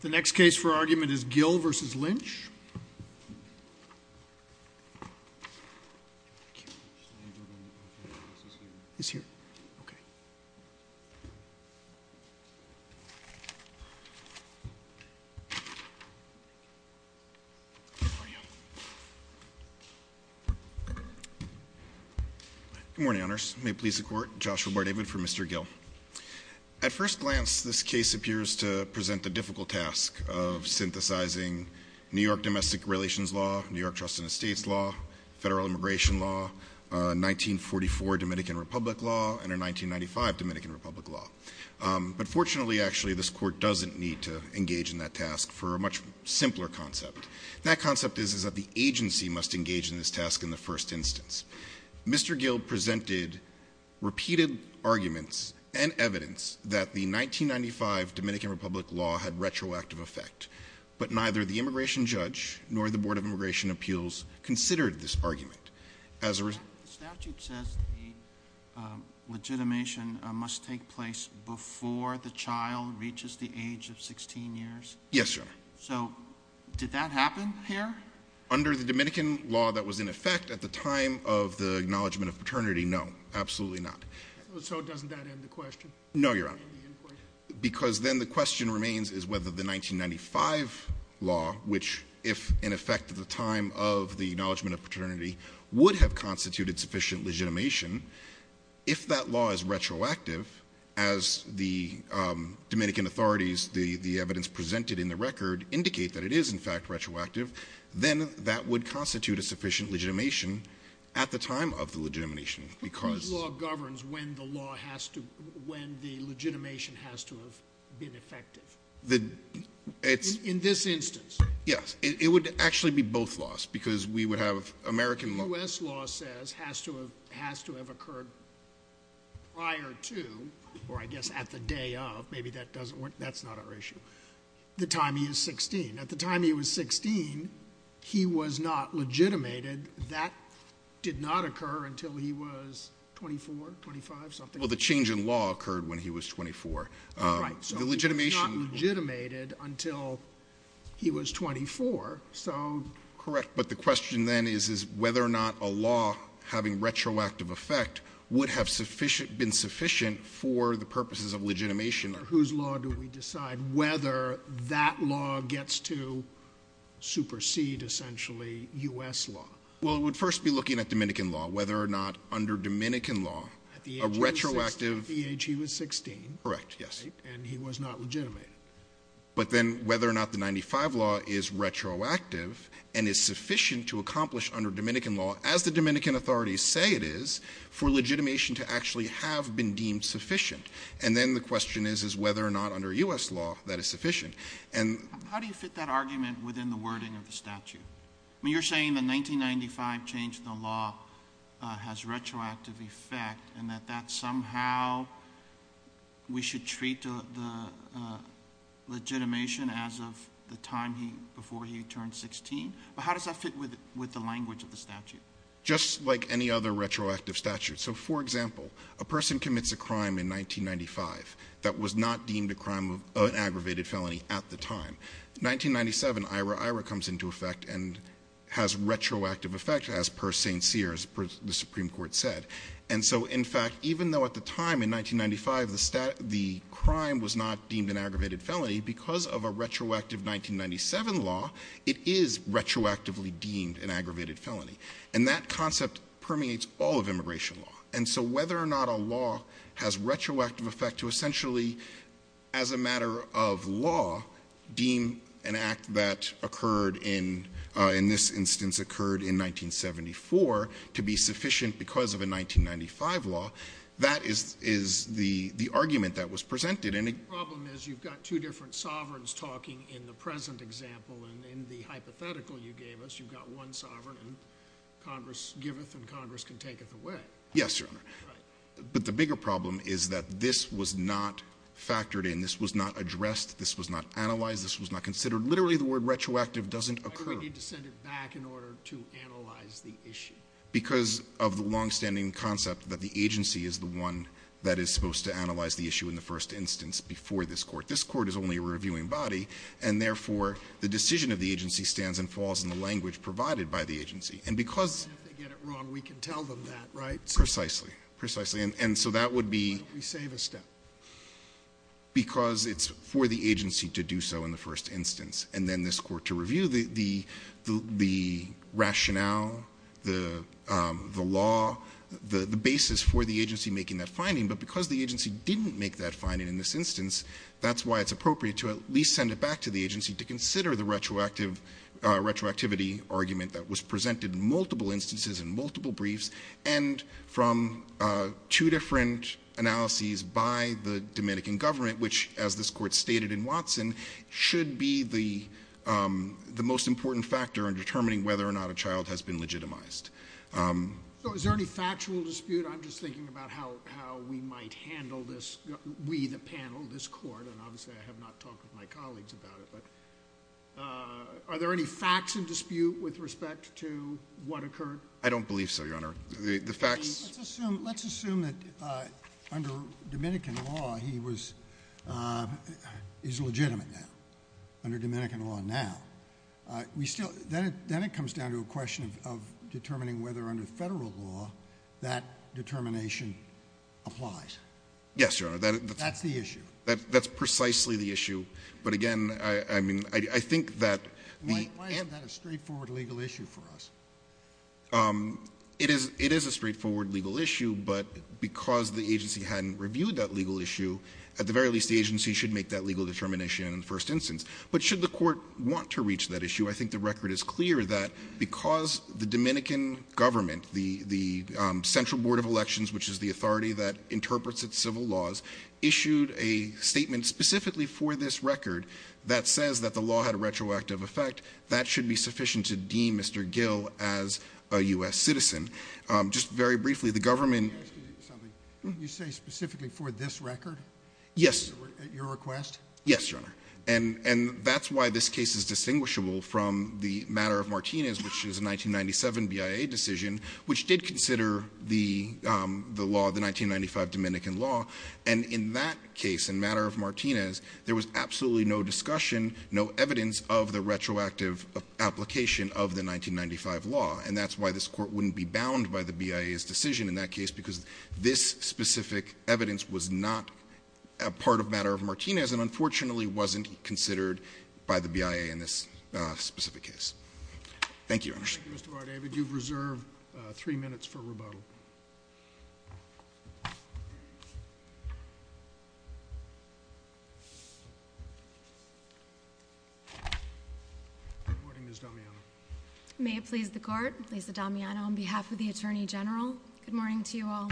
The next case for argument is Gil v. Lynch. Good morning, Honors. May it please the Court, Joshua Bardavid for Mr. Gil. At first glance, this case appears to present the difficult task of synthesizing New York Domestic Relations Law, New York Trust and Estates Law, Federal Immigration Law, 1944 Dominican Republic Law, and a 1995 Dominican Republic Law. But fortunately, actually, this Court doesn't need to engage in that task for a much simpler concept. That concept is that the agency must engage in this task in the first instance. Mr. Gil presented repeated arguments and evidence that the 1995 Dominican Republic Law had retroactive effect. But neither the immigration judge nor the Board of Immigration Appeals considered this argument. The statute says the legitimation must take place before the child reaches the age of 16 years. Yes, Your Honor. So did that happen here? Under the Dominican law that was in effect at the time of the acknowledgement of paternity, no, absolutely not. So doesn't that end the question? No, Your Honor. Because then the question remains is whether the 1995 law, which if in effect at the time of the acknowledgement of paternity, would have constituted sufficient legitimation. If that law is retroactive, as the Dominican authorities, the evidence presented in the record, indicate that it is in fact retroactive, then that would constitute a sufficient legitimation at the time of the legitimation. But whose law governs when the legitimation has to have been effective? In this instance? Yes. It would actually be both laws because we would have American law. U.S. law says has to have occurred prior to, or I guess at the day of, maybe that doesn't work, that's not our issue, the time he was 16. At the time he was 16, he was not legitimated. That did not occur until he was 24, 25, something like that. Well, the change in law occurred when he was 24. Right. So he was not legitimated until he was 24, so. Correct. But the question then is whether or not a law having retroactive effect would have been sufficient for the purposes of legitimation. Whose law do we decide whether that law gets to supersede essentially U.S. law? Well, it would first be looking at Dominican law, whether or not under Dominican law a retroactive. At the age he was 16. Correct, yes. And he was not legitimated. But then whether or not the 95 law is retroactive and is sufficient to accomplish under Dominican law, as the Dominican authorities say it is, for legitimation to actually have been deemed sufficient. And then the question is whether or not under U.S. law that is sufficient. How do you fit that argument within the wording of the statute? You're saying the 1995 change in the law has retroactive effect and that that somehow we should treat the legitimation as of the time before he turned 16. But how does that fit with the language of the statute? Just like any other retroactive statute. So, for example, a person commits a crime in 1995 that was not deemed a crime of an aggravated felony at the time. 1997, IRA IRA comes into effect and has retroactive effect, as per St. Cyr, as per the Supreme Court said. And so, in fact, even though at the time in 1995 the crime was not deemed an aggravated felony, because of a retroactive 1997 law, it is retroactively deemed an aggravated felony. And that concept permeates all of immigration law. And so whether or not a law has retroactive effect to essentially, as a matter of law, deem an act that occurred in this instance occurred in 1974 to be sufficient because of a 1995 law, that is the argument that was presented. The problem is you've got two different sovereigns talking in the present example. And in the hypothetical you gave us, you've got one sovereign and Congress giveth and Congress can taketh away. Yes, Your Honor. Right. But the bigger problem is that this was not factored in. This was not addressed. This was not analyzed. This was not considered. Literally, the word retroactive doesn't occur. Why do we need to send it back in order to analyze the issue? Because of the longstanding concept that the agency is the one that is supposed to analyze the issue in the first instance before this court. This court is only a reviewing body. And, therefore, the decision of the agency stands and falls in the language provided by the agency. And because- And if they get it wrong, we can tell them that, right? Precisely. Precisely. And so that would be- We save a step. Because it's for the agency to do so in the first instance. And then this court to review the rationale, the law, the basis for the agency making that finding. But because the agency didn't make that finding in this instance, that's why it's appropriate to at least send it back to the agency to consider the retroactivity argument that was presented in multiple instances and multiple briefs and from two different analyses by the Dominican government, which, as this court stated in Watson, should be the most important factor in determining whether or not a child has been legitimized. So is there any factual dispute? I'm just thinking about how we might handle this, we the panel, this court. And, obviously, I have not talked with my colleagues about it. But are there any facts in dispute with respect to what occurred? I don't believe so, Your Honor. The facts- Let's assume that under Dominican law, he's legitimate now. Under Dominican law now. Then it comes down to a question of determining whether under federal law that determination applies. Yes, Your Honor. That's the issue. That's precisely the issue. But, again, I think that- Why isn't that a straightforward legal issue for us? It is a straightforward legal issue, but because the agency hadn't reviewed that legal issue, at the very least the agency should make that legal determination in the first instance. But should the court want to reach that issue, I think the record is clear that because the Dominican government, the Central Board of Elections, which is the authority that interprets its civil laws, issued a statement specifically for this record that says that the law had a retroactive effect, that should be sufficient to deem Mr. Gill as a U.S. citizen. Just very briefly, the government- Can I ask you something? You say specifically for this record? Yes. At your request? Yes, Your Honor. And that's why this case is distinguishable from the matter of Martinez, which is a 1997 BIA decision, which did consider the law, the 1995 Dominican law. And in that case, in matter of Martinez, there was absolutely no discussion, no evidence of the retroactive application of the 1995 law. And that's why this court wouldn't be bound by the BIA's decision in that case, because this specific evidence was not a part of matter of Martinez and unfortunately wasn't considered by the BIA in this specific case. Thank you, Your Honor. Thank you, Mr. Vardavid. You've reserved three minutes for rebuttal. Thank you. Good morning, Ms. Damiano. May it please the Court, Lisa Damiano on behalf of the Attorney General, good morning to you all.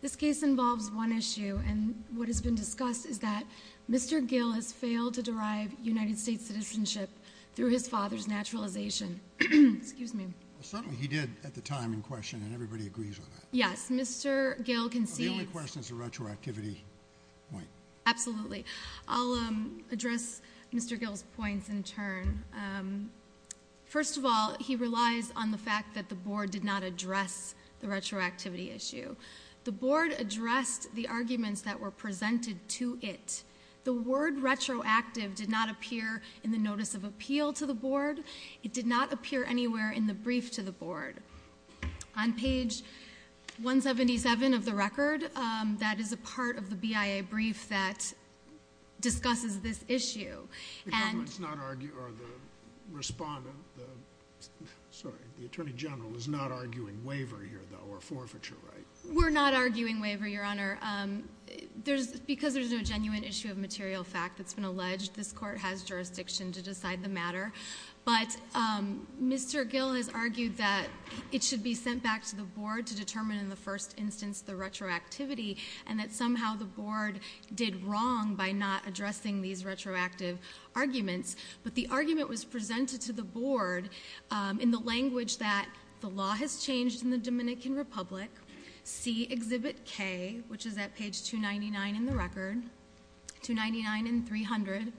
This case involves one issue, and what has been discussed is that Mr. Gill has failed to derive United States citizenship through his father's naturalization. Excuse me. Certainly he did at the time in question, and everybody agrees on that. Yes. Mr. Gill concedes. The only question is the retroactivity point. Absolutely. I'll address Mr. Gill's points in turn. First of all, he relies on the fact that the board did not address the retroactivity issue. The board addressed the arguments that were presented to it. The word retroactive did not appear in the notice of appeal to the board. It did not appear anywhere in the brief to the board. On page 177 of the record, that is a part of the BIA brief that discusses this issue. The government's not arguing or the respondent, sorry, the Attorney General is not arguing waiver here, though, or forfeiture, right? We're not arguing waiver, Your Honor. Because there's no genuine issue of material fact that's been alleged, this court has jurisdiction to decide the matter. But Mr. Gill has argued that it should be sent back to the board to determine in the first instance the retroactivity, and that somehow the board did wrong by not addressing these retroactive arguments. But the argument was presented to the board in the language that the law has changed in the Dominican Republic. See Exhibit K, which is at page 299 in the record, 299 and 300.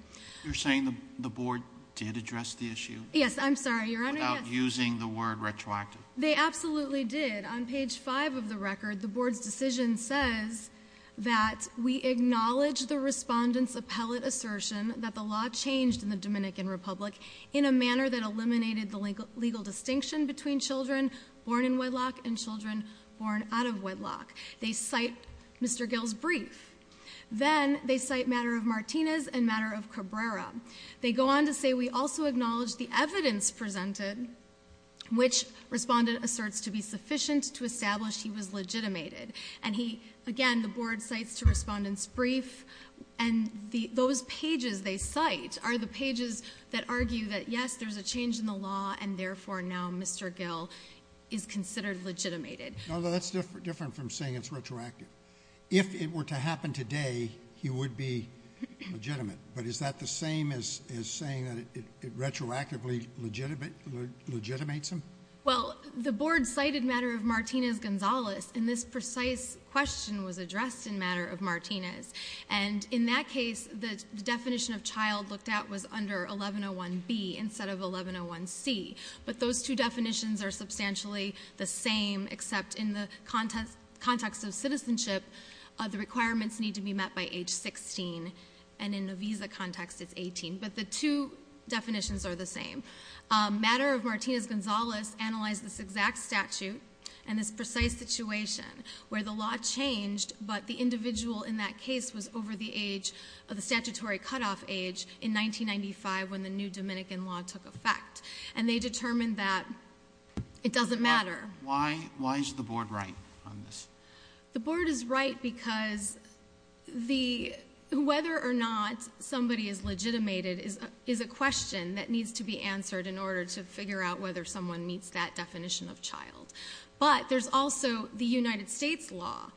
You're saying the board did address the issue? Yes, I'm sorry, Your Honor, yes. Without using the word retroactive? They absolutely did. On page 5 of the record, the board's decision says that we acknowledge the respondent's appellate assertion that the law changed in the Dominican Republic in a manner that eliminated the legal distinction between children born in wedlock and children born out of wedlock. They cite Mr. Gill's brief. Then they cite matter of Martinez and matter of Cabrera. They go on to say we also acknowledge the evidence presented, which respondent asserts to be sufficient to establish he was legitimated. And he, again, the board cites to respondent's brief. And those pages they cite are the pages that argue that, yes, there's a change in the law, and therefore now Mr. Gill is considered legitimated. No, that's different from saying it's retroactive. If it were to happen today, he would be legitimate. But is that the same as saying that it retroactively legitimates him? Well, the board cited matter of Martinez-Gonzalez, and this precise question was addressed in matter of Martinez. And in that case, the definition of child looked at was under 1101B instead of 1101C. But those two definitions are substantially the same, except in the context of citizenship, the requirements need to be met by age 16, and in a visa context, it's 18. But the two definitions are the same. Matter of Martinez-Gonzalez analyzed this exact statute and this precise situation where the law changed, but the individual in that case was over the statutory cutoff age in 1995 when the new Dominican law took effect. And they determined that it doesn't matter. Why is the board right on this? The board is right because whether or not somebody is legitimated is a question that needs to be answered in order to figure out whether someone meets that definition of child. But there's also the United States law.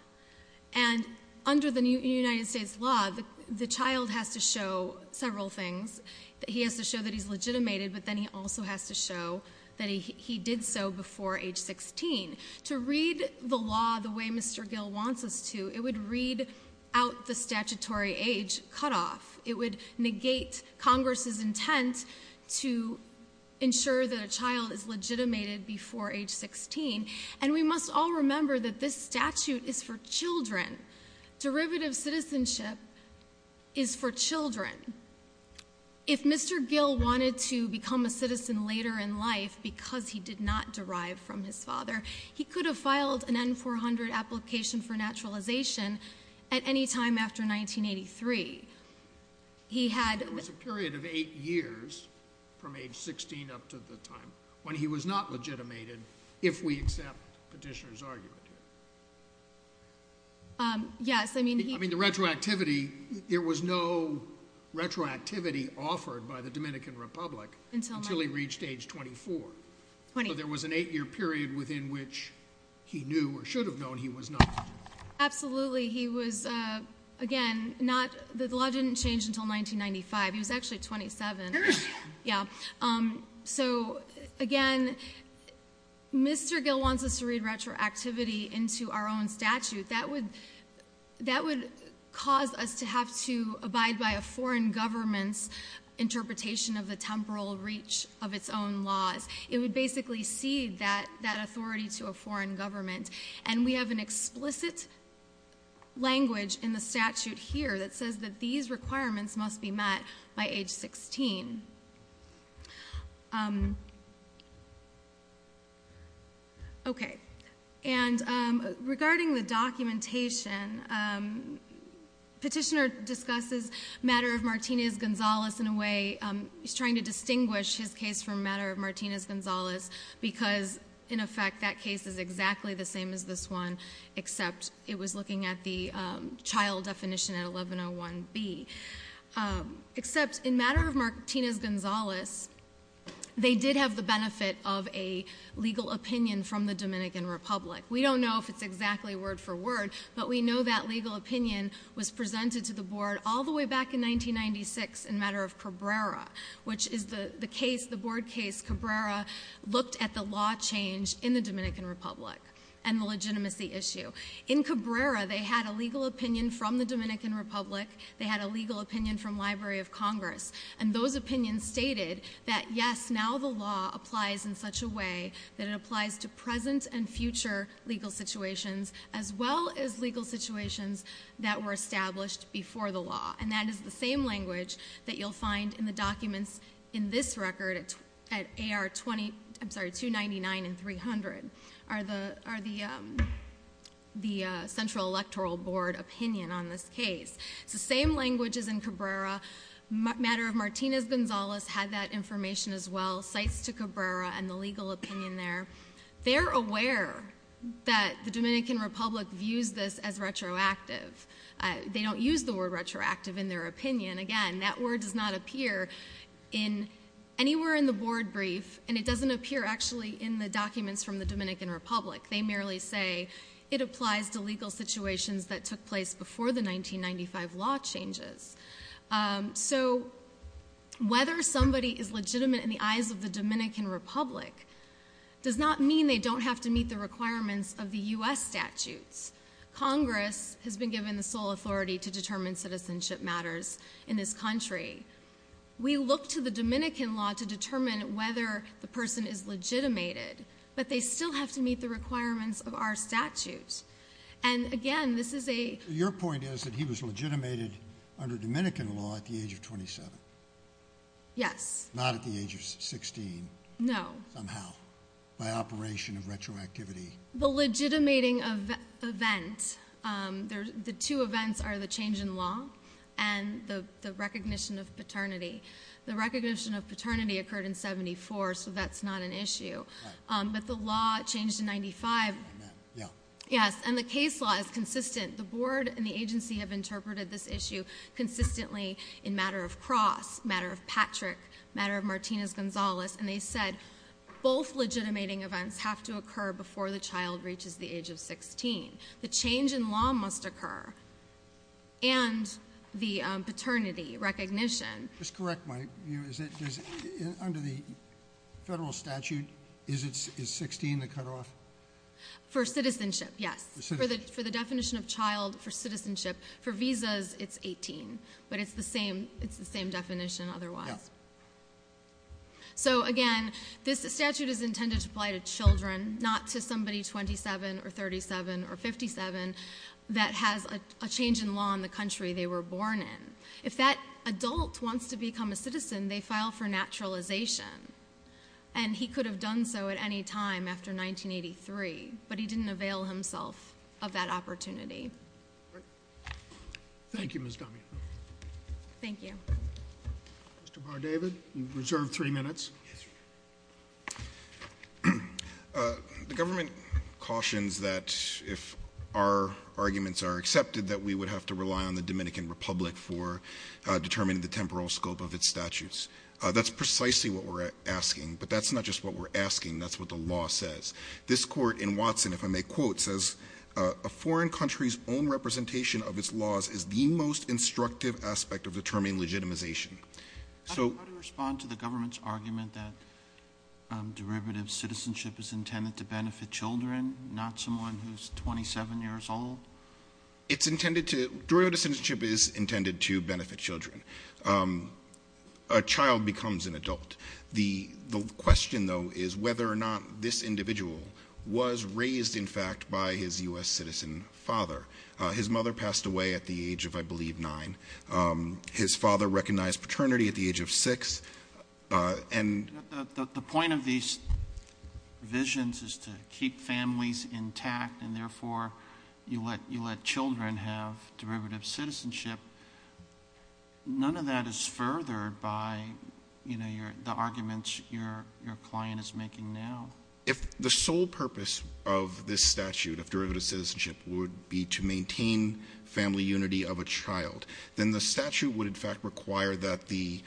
And under the United States law, the child has to show several things. He has to show that he's legitimated, but then he also has to show that he did so before age 16. To read the law the way Mr. Gill wants us to, it would read out the statutory age cutoff. It would negate Congress's intent to ensure that a child is legitimated before age 16. And we must all remember that this statute is for children. Derivative citizenship is for children. If Mr. Gill wanted to become a citizen later in life because he did not derive from his father, he could have filed an N-400 application for naturalization at any time after 1983. He had- There was a period of eight years from age 16 up to the time when he was not legitimated, if we accept the petitioner's argument. Yes, I mean- I mean, the retroactivity, there was no retroactivity offered by the Dominican Republic until he reached age 24. So there was an eight-year period within which he knew or should have known he was not. Absolutely. He was, again, not-the law didn't change until 1995. He was actually 27. Yeah. So, again, Mr. Gill wants us to read retroactivity into our own statute. That would cause us to have to abide by a foreign government's interpretation of the temporal reach of its own laws. It would basically cede that authority to a foreign government. And we have an explicit language in the statute here that says that these requirements must be met by age 16. Okay. And regarding the documentation, petitioner discusses matter of Martinez-Gonzalez in a way- Martinez-Gonzalez because, in effect, that case is exactly the same as this one, except it was looking at the child definition at 1101B. Except in matter of Martinez-Gonzalez, they did have the benefit of a legal opinion from the Dominican Republic. We don't know if it's exactly word for word, but we know that legal opinion was presented to the board all the way back in 1996 in matter of Cabrera, which is the case, the board case Cabrera looked at the law change in the Dominican Republic and the legitimacy issue. In Cabrera, they had a legal opinion from the Dominican Republic. They had a legal opinion from Library of Congress. And those opinions stated that, yes, now the law applies in such a way that it applies to present and future legal situations, as well as legal situations that were established before the law. And that is the same language that you'll find in the documents in this record at AR-299 and 300, are the central electoral board opinion on this case. It's the same language as in Cabrera. Matter of Martinez-Gonzalez had that information as well, cites to Cabrera and the legal opinion there. They're aware that the Dominican Republic views this as retroactive. They don't use the word retroactive in their opinion. Again, that word does not appear anywhere in the board brief, and it doesn't appear actually in the documents from the Dominican Republic. They merely say it applies to legal situations that took place before the 1995 law changes. So whether somebody is legitimate in the eyes of the Dominican Republic does not mean they don't have to meet the requirements of the U.S. statutes. Congress has been given the sole authority to determine citizenship matters in this country. We look to the Dominican law to determine whether the person is legitimated, but they still have to meet the requirements of our statute. And again, this is a— So your point is that he was legitimated under Dominican law at the age of 27? Yes. Not at the age of 16? No. Somehow, by operation of retroactivity. The legitimating event, the two events are the change in law and the recognition of paternity. The recognition of paternity occurred in 74, so that's not an issue. Right. But the law changed in 95. Yeah. Yes, and the case law is consistent. The board and the agency have interpreted this issue consistently in matter of Cross, matter of Patrick, matter of Martinez-Gonzalez, and they said both legitimating events have to occur before the child reaches the age of 16. The change in law must occur, and the paternity recognition— Just correct my view. Is it—under the federal statute, is 16 the cutoff? For citizenship, yes. For citizenship. For the definition of child, for citizenship. For visas, it's 18. But it's the same definition otherwise. Yeah. So, again, this statute is intended to apply to children, not to somebody 27 or 37 or 57 that has a change in law in the country they were born in. If that adult wants to become a citizen, they file for naturalization, and he could have done so at any time after 1983, but he didn't avail himself of that opportunity. Right. Thank you, Ms. Domingo. Thank you. Mr. Bardavid, you're reserved three minutes. Yes, sir. The government cautions that if our arguments are accepted, that we would have to rely on the Dominican Republic for determining the temporal scope of its statutes. That's precisely what we're asking, but that's not just what we're asking. That's what the law says. This court in Watson, if I may quote, says, a foreign country's own representation of its laws is the most instructive aspect of determining legitimization. How do you respond to the government's argument that derivative citizenship is intended to benefit children, not someone who's 27 years old? Derivative citizenship is intended to benefit children. A child becomes an adult. The question, though, is whether or not this individual was raised, in fact, by his U.S. citizen father. His mother passed away at the age of, I believe, 9. His father recognized paternity at the age of 6. The point of these revisions is to keep families intact and, therefore, you let children have derivative citizenship. None of that is furthered by, you know, the arguments your client is making now. If the sole purpose of this statute of derivative citizenship would be to maintain family unity of a child, then the statute would, in fact, require that the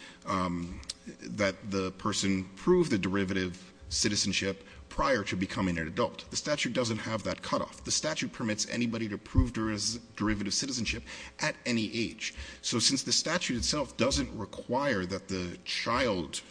person prove the derivative citizenship prior to becoming an adult. The statute doesn't have that cutoff. The statute permits anybody to prove derivative citizenship at any age. So since the statute itself doesn't require that the child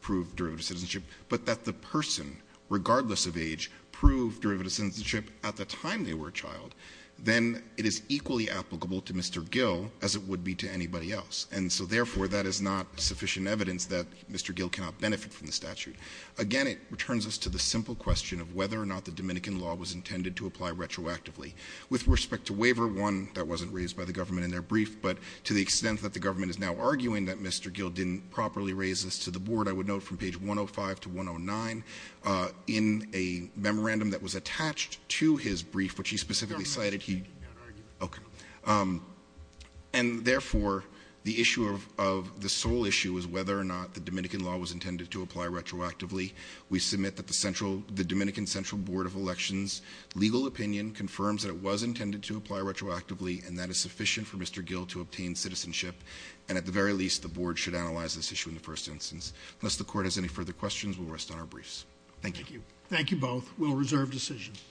prove derivative citizenship, but that the person, regardless of age, prove derivative citizenship at the time they were a child, then it is equally applicable to Mr. Gill as it would be to anybody else. And so, therefore, that is not sufficient evidence that Mr. Gill cannot benefit from the statute. Again, it returns us to the simple question of whether or not the Dominican law was intended to apply retroactively. With respect to Waiver 1, that wasn't raised by the government in their brief, but to the extent that the government is now arguing that Mr. Gill didn't properly raise this to the board, I would note from page 105 to 109, in a memorandum that was attached to his brief, which he specifically cited, he- The government is changing that argument. Okay. And, therefore, the issue of the sole issue is whether or not the Dominican law was intended to apply retroactively. We submit that the Dominican Central Board of Elections' legal opinion confirms that it was intended to apply retroactively, and that is sufficient for Mr. Gill to obtain citizenship. And, at the very least, the board should analyze this issue in the first instance. Unless the court has any further questions, we'll rest on our briefs. Thank you. Thank you both. We'll reserve decisions.